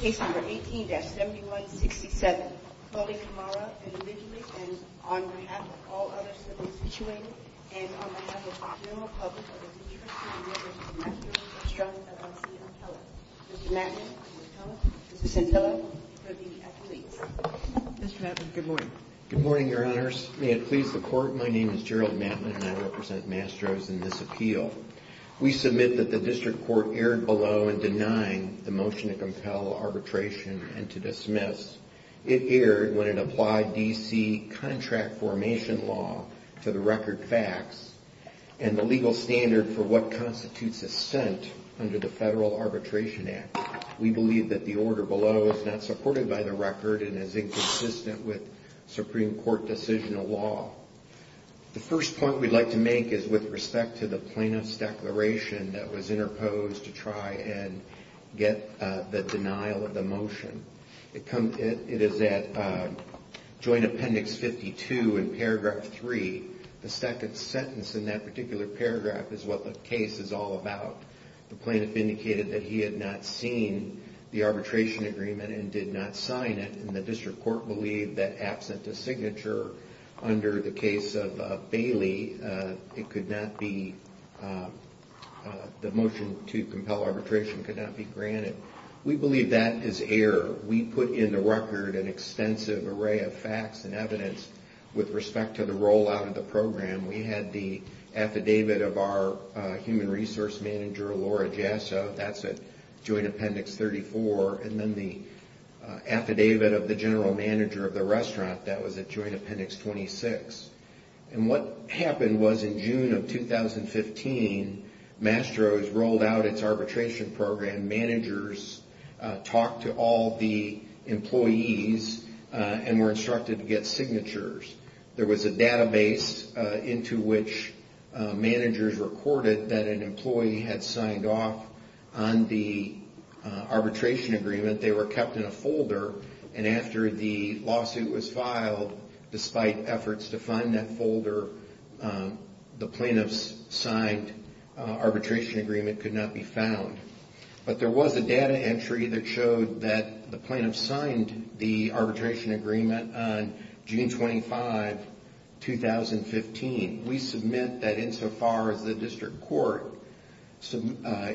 Case number 18-7167, Coley Camara, individually and on behalf of all others that were situated, and on behalf of the general public of the District Court of New York and Mastro's Restaurants LLC, I'm telling you, Mr. Matlin, I'm going to tell you, Mrs. Santella, for the applicant. Mr. Matlin, good morning. Good morning, Your Honors. May it please the Court, my name is Gerald Matlin and I represent Mastro's in this appeal. We submit that the District Court erred below in denying the motion to compel arbitration and to dismiss. It erred when it applied D.C. contract formation law to the record facts and the legal standard for what constitutes assent under the Federal Arbitration Act. We believe that the order below is not supported by the record and is inconsistent with Supreme Court decisional law. The first point we'd like to make is with respect to the plaintiff's declaration that was interposed to try and get the denial of the motion. It is at Joint Appendix 52 in paragraph 3. The second sentence in that particular paragraph is what the case is all about. The plaintiff indicated that he had not seen the arbitration agreement and did not sign it and the District Court believed that absent a signature under the case of Bailey, it could not be, the motion to compel arbitration could not be granted. We believe that is error. We put in the record an extensive array of facts and evidence with respect to the rollout of the program. We had the affidavit of our human resource manager, Laura Jasso. That's at Joint Appendix 34. And then the affidavit of the general manager of the restaurant, that was at Joint Appendix 26. And what happened was in June of 2015, Mastro's rolled out its arbitration program. Managers talked to all the employees and were instructed to get signatures. There was a database into which managers recorded that an employee had signed off on the arbitration agreement. They were kept in a folder and after the lawsuit was filed, despite efforts to find that folder, the plaintiff's signed arbitration agreement could not be found. But there was a data entry that showed that the plaintiff signed the arbitration agreement on June 25, 2015. We submit that insofar as the District Court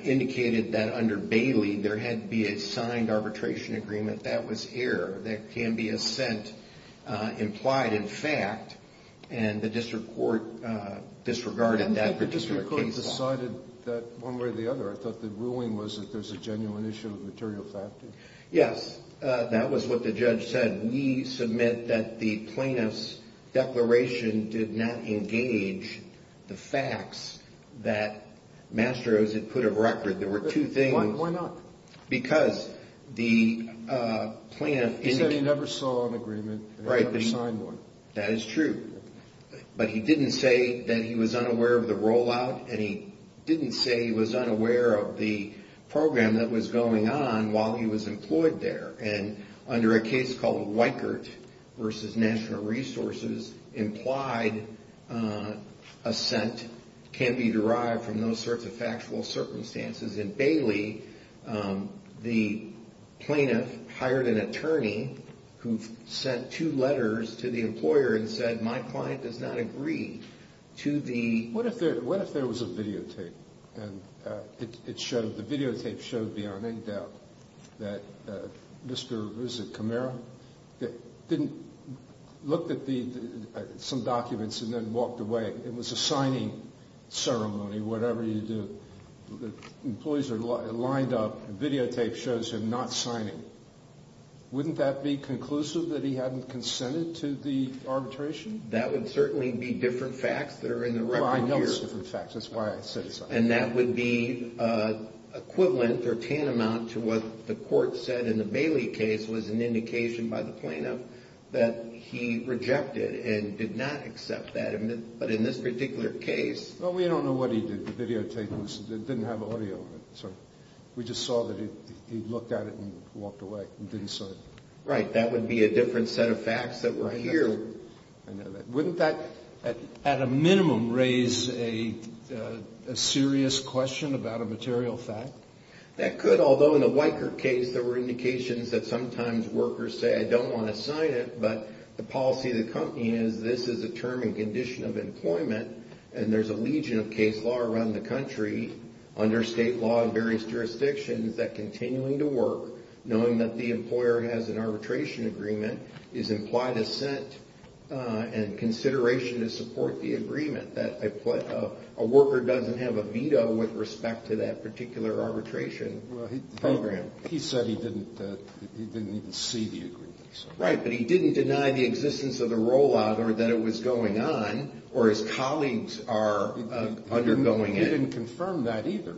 indicated that under Bailey there had to be a signed arbitration agreement, that was error. There can be assent implied in fact and the District Court disregarded that particular case. Yes, that was what the judge said. We submit that the plaintiff's declaration did not engage the facts that Mastro's had put of record. There were two things. Why not? Because the plaintiff... He said he never saw an agreement and he never signed one. The plaintiff hired an attorney who sent two letters to the employer and said, my client does not agree to the... The videotape shows him not signing. Wouldn't that be conclusive that he hadn't consented to the arbitration? That would certainly be different facts that are in the record here. Well, I know it's different facts. That's why I said it's not. And that would be equivalent or tantamount to what the court said in the Bailey case was an indication by the plaintiff that he rejected and did not accept that. But in this particular case... Well, we don't know what he did. The videotape didn't have audio. We just saw that he looked at it and walked away and didn't sign it. Right. That would be a different set of facts that were here. I know that. Wouldn't that at a minimum raise a serious question about a material fact? That could, although in the Weicker case, there were indications that sometimes workers say, I don't want to sign it. But the policy of the company is this is a term and condition of employment. And there's a legion of case law around the country under state law and various jurisdictions that continuing to work, knowing that the employer has an arbitration agreement, is implied assent and consideration to support the agreement. A worker doesn't have a veto with respect to that particular arbitration program. He said he didn't even see the agreement. Right. But he didn't deny the existence of the rollout or that it was going on or his colleagues are undergoing it. He didn't confirm that either.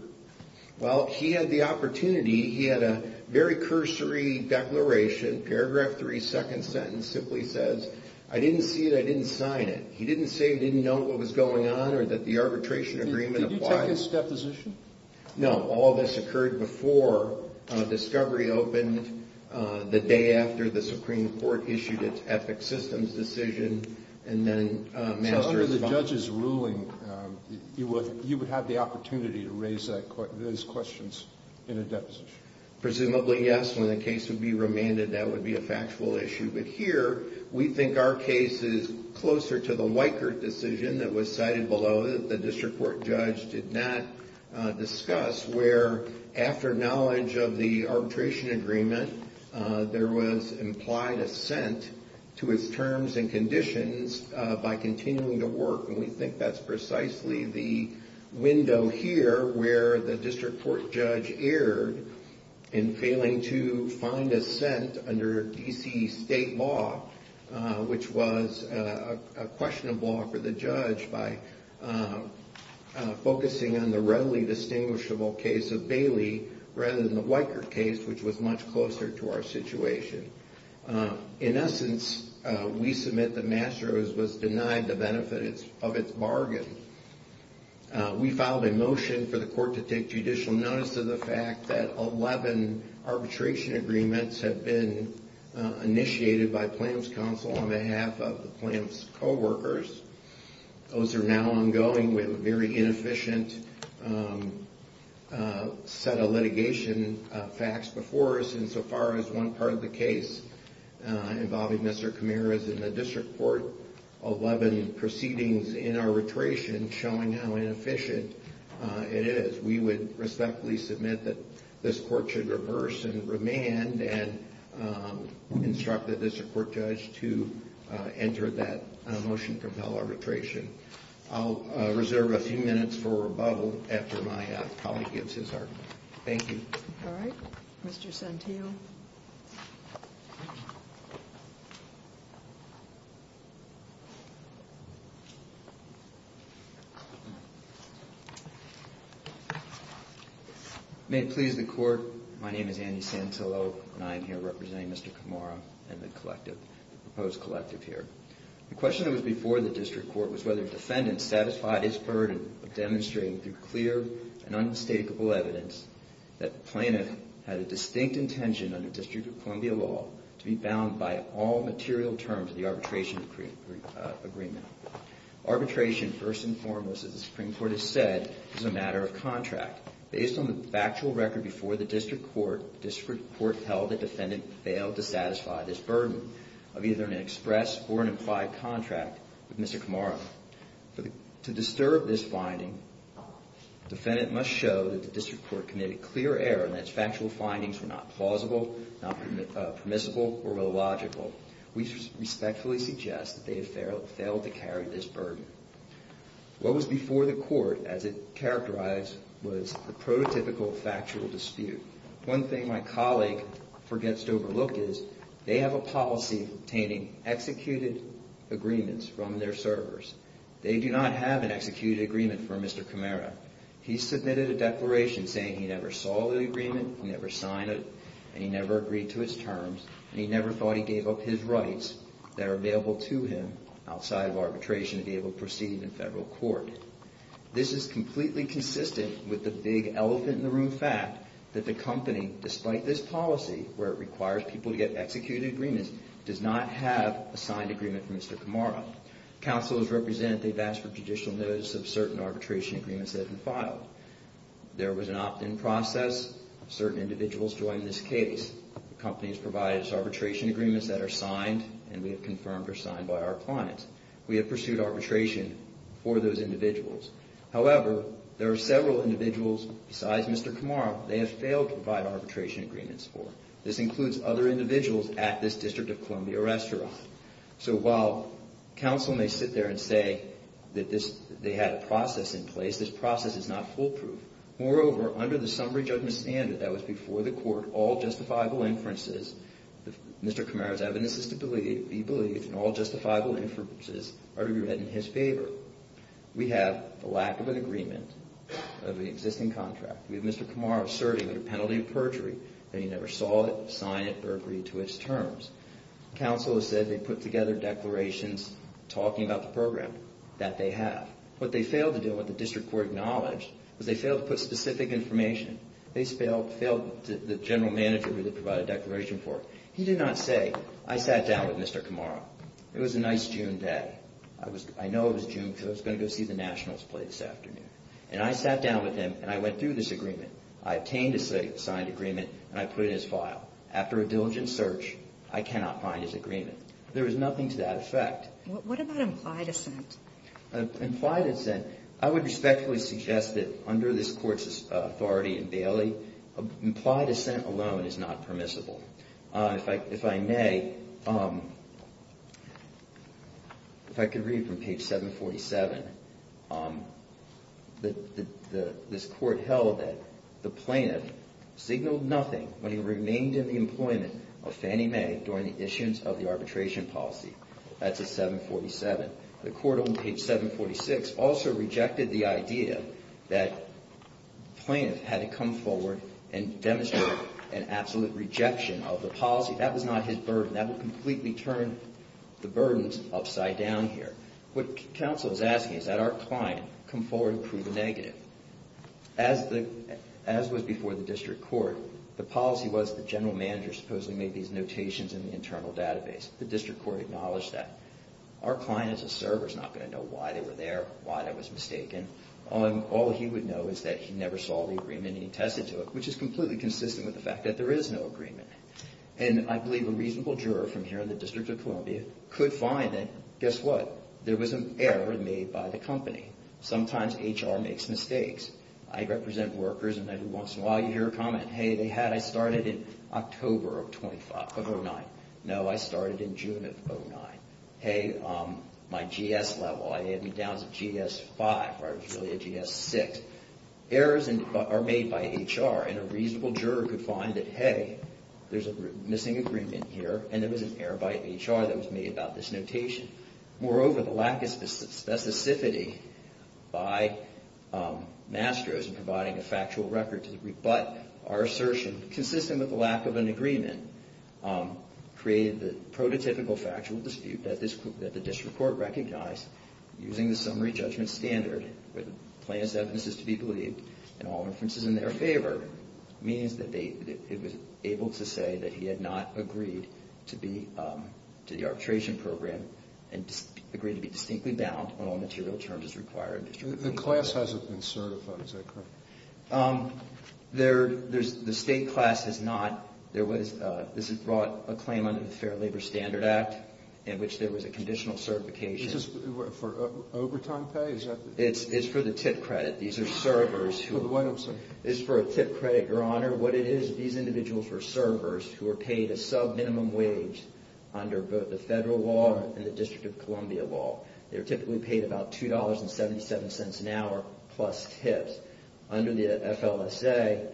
Well, he had the opportunity. He had a very cursory declaration, paragraph three, second sentence, simply says, I didn't see it. I didn't sign it. He didn't say he didn't know what was going on or that the arbitration agreement. Did you take his deposition? No. All this occurred before Discovery opened the day after the Supreme Court issued its ethics systems decision. And then under the judge's ruling, you would have the opportunity to raise those questions in a deposition. Presumably, yes. When the case would be remanded, that would be a factual issue. But here, we think our case is closer to the Weikert decision that was cited below. The district court judge did not discuss where, after knowledge of the arbitration agreement, there was implied assent to his terms and conditions by continuing to work. And we think that's precisely the window here where the district court judge erred in failing to find assent under D.C. state law, which was a question of law for the judge by focusing on the readily distinguishable case of Bailey rather than the Weikert case, which was much closer to our situation. In essence, we submit that Mastro's was denied the benefit of its bargain. We filed a motion for the court to take judicial notice of the fact that 11 arbitration agreements have been initiated by Plamps Council on behalf of the Plamps co-workers. Those are now ongoing. We have a very inefficient set of litigation facts before us, insofar as one part of the case involving Mr. Kamir is in the district court, 11 proceedings in arbitration showing how inefficient it is. We would respectfully submit that this court should reverse and remand and instruct the district court judge to enter that motion to compel arbitration. I'll reserve a few minutes for rebuttal after my colleague gives his argument. Thank you. All right. Mr. Santillo. May it please the court, my name is Andy Santillo, and I am here representing Mr. Kamara and the collective, the proposed collective here. The question that was before the district court was whether defendants satisfied his burden of demonstrating through clear and unmistakable evidence that Plaintiff had a distinct intention under District of Columbia law to be bound by all material terms of the arbitration agreement. Arbitration, first and foremost, as the Supreme Court has said, is a matter of contract. Based on the factual record before the district court, the district court held that the defendant failed to satisfy this burden of either an express or an implied contract with Mr. Kamara. To disturb this finding, the defendant must show that the district court committed clear error and that its factual findings were not plausible, not permissible, or illogical. We respectfully suggest that they have failed to carry this burden. What was before the court, as it characterized, was the prototypical factual dispute. One thing my colleague forgets to overlook is they have a policy obtaining executed agreements from their servers. They do not have an executed agreement from Mr. Kamara. He submitted a declaration saying he never saw the agreement, he never signed it, and he never agreed to its terms, and he never thought he gave up his rights that are available to him outside of arbitration to be able to proceed in federal court. This is completely consistent with the big elephant in the room fact that the company, despite this policy, where it requires people to get executed agreements, does not have a signed agreement from Mr. Kamara. Counselors represent they've asked for judicial notice of certain arbitration agreements that have been filed. There was an opt-in process. Certain individuals joined this case. The company has provided us arbitration agreements that are signed and we have confirmed are signed by our clients. We have pursued arbitration for those individuals. However, there are several individuals besides Mr. Kamara they have failed to provide arbitration agreements for. This includes other individuals at this District of Columbia restaurant. So while counsel may sit there and say that they had a process in place, this process is not foolproof. Moreover, under the summary judgment standard that was before the court, all justifiable inferences, Mr. Kamara's evidence is to be believed, and all justifiable inferences are to be read in his favor. We have a lack of an agreement of the existing contract. We have Mr. Kamara asserting with a penalty of perjury that he never saw it, signed it, or agreed to its terms. Counsel has said they put together declarations talking about the program that they have. What they failed to do and what the district court acknowledged was they failed to put specific information. They failed the general manager who they provided a declaration for. He did not say, I sat down with Mr. Kamara. It was a nice June day. I know it was June because I was going to go see the Nationals play this afternoon. And I sat down with him and I went through this agreement. I obtained a signed agreement and I put it in his file. After a diligent search, I cannot find his agreement. There is nothing to that effect. What about implied assent? Implied assent, I would respectfully suggest that under this court's authority in Bailey, implied assent alone is not permissible. If I may, if I could read from page 747. This court held that the plaintiff signaled nothing when he remained in the employment of Fannie Mae during the issuance of the arbitration policy. That's at 747. The court on page 746 also rejected the idea that the plaintiff had to come forward and demonstrate an absolute rejection of the policy. That was not his burden. That would completely turn the burdens upside down here. What counsel is asking is that our client come forward and prove a negative. As was before the district court, the policy was the general manager supposedly made these notations in the internal database. The district court acknowledged that. Our client as a server is not going to know why they were there, why that was mistaken. All he would know is that he never saw the agreement and he tested to it, which is completely consistent with the fact that there is no agreement. I believe a reasonable juror from here in the District of Columbia could find that, guess what? There was an error made by the company. Sometimes HR makes mistakes. I represent workers and every once in a while you hear a comment, I started in October of 2009. No, I started in June of 2009. Hey, my GS level, I had me down to GS5. I was really a GS6. Errors are made by HR and a reasonable juror could find that, hey, there's a missing agreement here and there was an error by HR that was made about this notation. Moreover, the lack of specificity by Mastro's in providing a factual record to rebut our assertion consistent with the lack of an agreement created the prototypical factual dispute that the district court recognized using the summary judgment standard where the plaintiff's evidence is to be believed and all inferences in their favor means that it was able to say that he had not agreed to the arbitration program and agreed to be distinctly bound on all material terms as required. The class hasn't been certified, is that correct? The state class has not. This is brought a claim under the Fair Labor Standard Act in which there was a conditional certification. Is this for overtime pay? It's for the tip credit. These are servers. Wait a second. It's for a tip credit, Your Honor. What it is, these individuals were servers who were paid a sub-minimum wage under both the federal law and the District of Columbia law. They were typically paid about $2.77 an hour plus tips. Under the FLSA,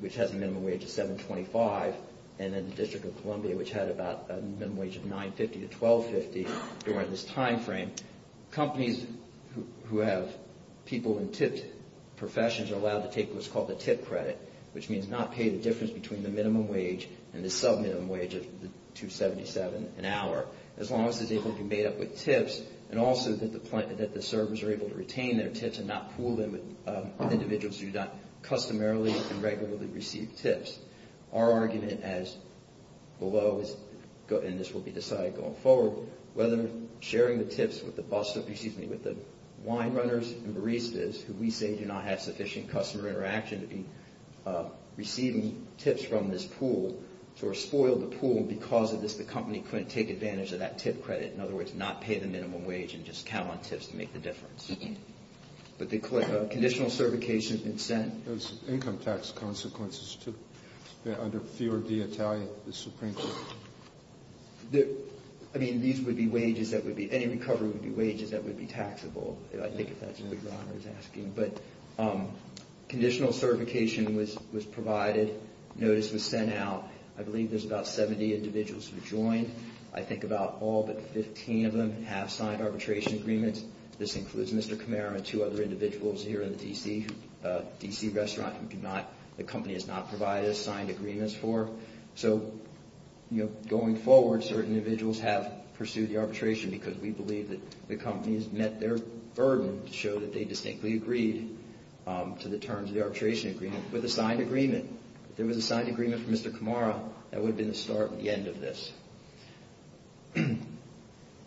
which has a minimum wage of $7.25, and then the District of Columbia, which had a minimum wage of $9.50 to $12.50 during this time frame, companies who have people in tip professions are allowed to take what's called the tip credit, which means not pay the difference between the minimum wage and the sub-minimum wage of $2.77 an hour. As long as it's able to be made up with tips and also that the servers are able to retain their tips and not pool them with individuals who do not customarily and regularly receive tips. Our argument as below, and this will be decided going forward, whether sharing the tips with the wine runners and baristas, who we say do not have sufficient customer interaction to be receiving tips from this pool, or spoil the pool because of this, the company couldn't take advantage of that tip credit. In other words, not pay the minimum wage and just count on tips to make the difference. But the conditional certification has been sent. There's income tax consequences too, under Fior di Italia, the Supreme Court. I mean, these would be wages that would be, any recovery would be wages that would be taxable. I think if that's really what I was asking. But conditional certification was provided. Notice was sent out. I believe there's about 70 individuals who joined. I think about all but 15 of them have signed arbitration agreements. This includes Mr. Kamara and two other individuals here in the D.C. restaurant who the company has not provided us signed agreements for. So, you know, going forward, certain individuals have pursued the arbitration because we believe that the company has met their burden to show that they distinctly agreed to the terms of the arbitration agreement with a signed agreement. If there was a signed agreement from Mr. Kamara, that would have been the start and the end of this.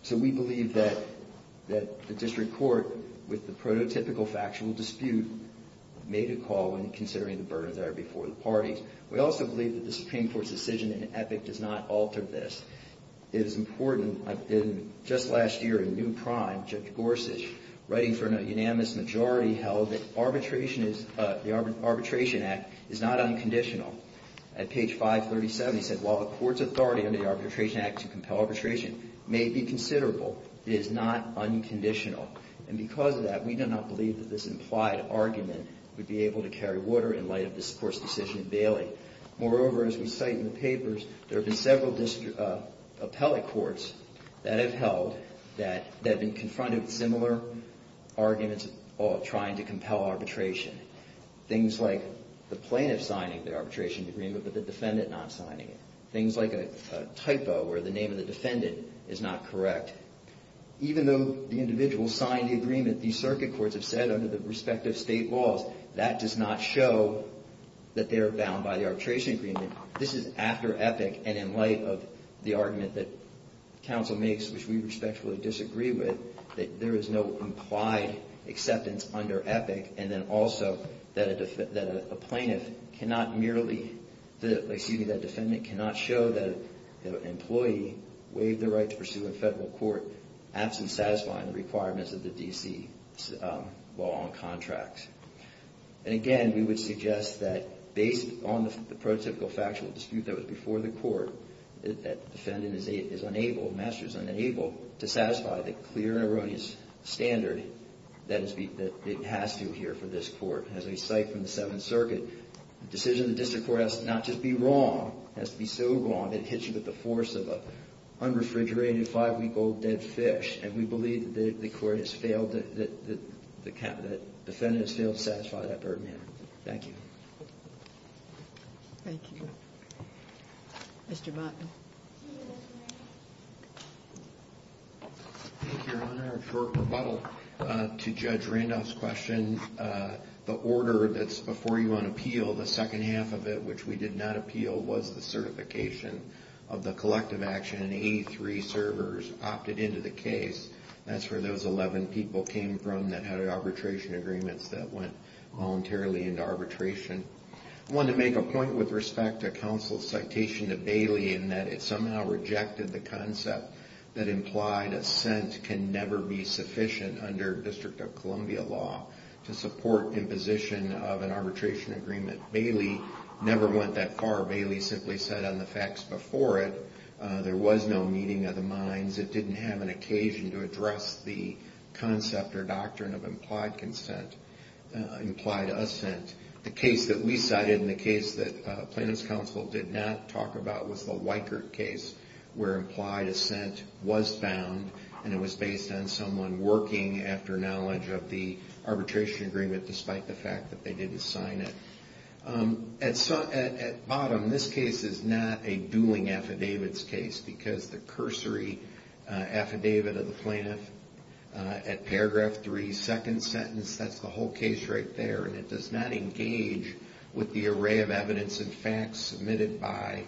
So we believe that the district court, with the prototypical factual dispute, made a call in considering the burdens that are before the parties. We also believe that the Supreme Court's decision in EPIC does not alter this. It is important. Just last year in New Prime, Judge Gorsuch, writing for a unanimous majority, held that the Arbitration Act is not unconditional. At page 537, he said, while the court's authority under the Arbitration Act to compel arbitration may be considerable, it is not unconditional. And because of that, we do not believe that this implied argument would be able to carry water in light of this court's decision in Bailey. Moreover, as we cite in the papers, there have been several appellate courts that have held that have been confronted with similar arguments trying to compel arbitration. Things like the plaintiff signing the arbitration agreement, but the defendant not signing it. Things like a typo where the name of the defendant is not correct. Even though the individual signed the agreement, these circuit courts have said under the respective state laws, that does not show that they are bound by the arbitration agreement. This is after EPIC, and in light of the argument that counsel makes, which we respectfully disagree with, that there is no implied acceptance under EPIC, and then also that a plaintiff cannot merely, excuse me, that defendant cannot show that an employee waived the right to pursue in federal court absent satisfying the requirements of the D.C. law and contracts. And again, we would suggest that based on the prototypical factual dispute that was before the court, that the defendant is unable, the master is unable, to satisfy the clear and erroneous standard that it has to here for this court. As we cite from the Seventh Circuit, the decision of the district court has to not just be wrong, has to be so wrong that it hits you with the force of an unrefrigerated five-week-old dead fish. And we believe that the court has failed, that the defendant has failed to satisfy that burden here. Thank you. Thank you. Mr. Botten. Thank you, Your Honor. For rebuttal to Judge Randolph's question, the order that's before you on appeal, the second half of it, which we did not appeal, was the certification of the collective action and 83 servers opted into the case. That's where those 11 people came from that had arbitration agreements that went voluntarily into arbitration. I wanted to make a point with respect to counsel's citation to Bailey in that it somehow rejected the concept that implied assent can never be sufficient under District of Columbia law to support imposition of an arbitration agreement. Bailey never went that far. Bailey simply said on the facts before it, there was no meeting of the minds. It didn't have an occasion to address the concept or doctrine of implied consent, implied assent. The case that we cited and the case that plaintiff's counsel did not talk about was the Weikert case where implied assent was found and it was based on someone working after knowledge of the arbitration agreement despite the fact that they didn't sign it. At bottom, this case is not a dueling affidavits case because the cursory affidavit of the plaintiff at paragraph 3, second sentence, that's the whole case right there, and it does not engage with the array of evidence that was in fact submitted by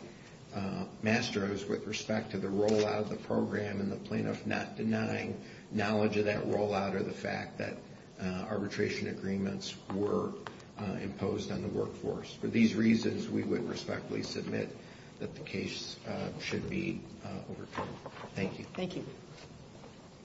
masters with respect to the rollout of the program and the plaintiff not denying knowledge of that rollout or the fact that arbitration agreements were imposed on the workforce. For these reasons, we would respectfully submit that the case should be overturned. Thank you. Thank you.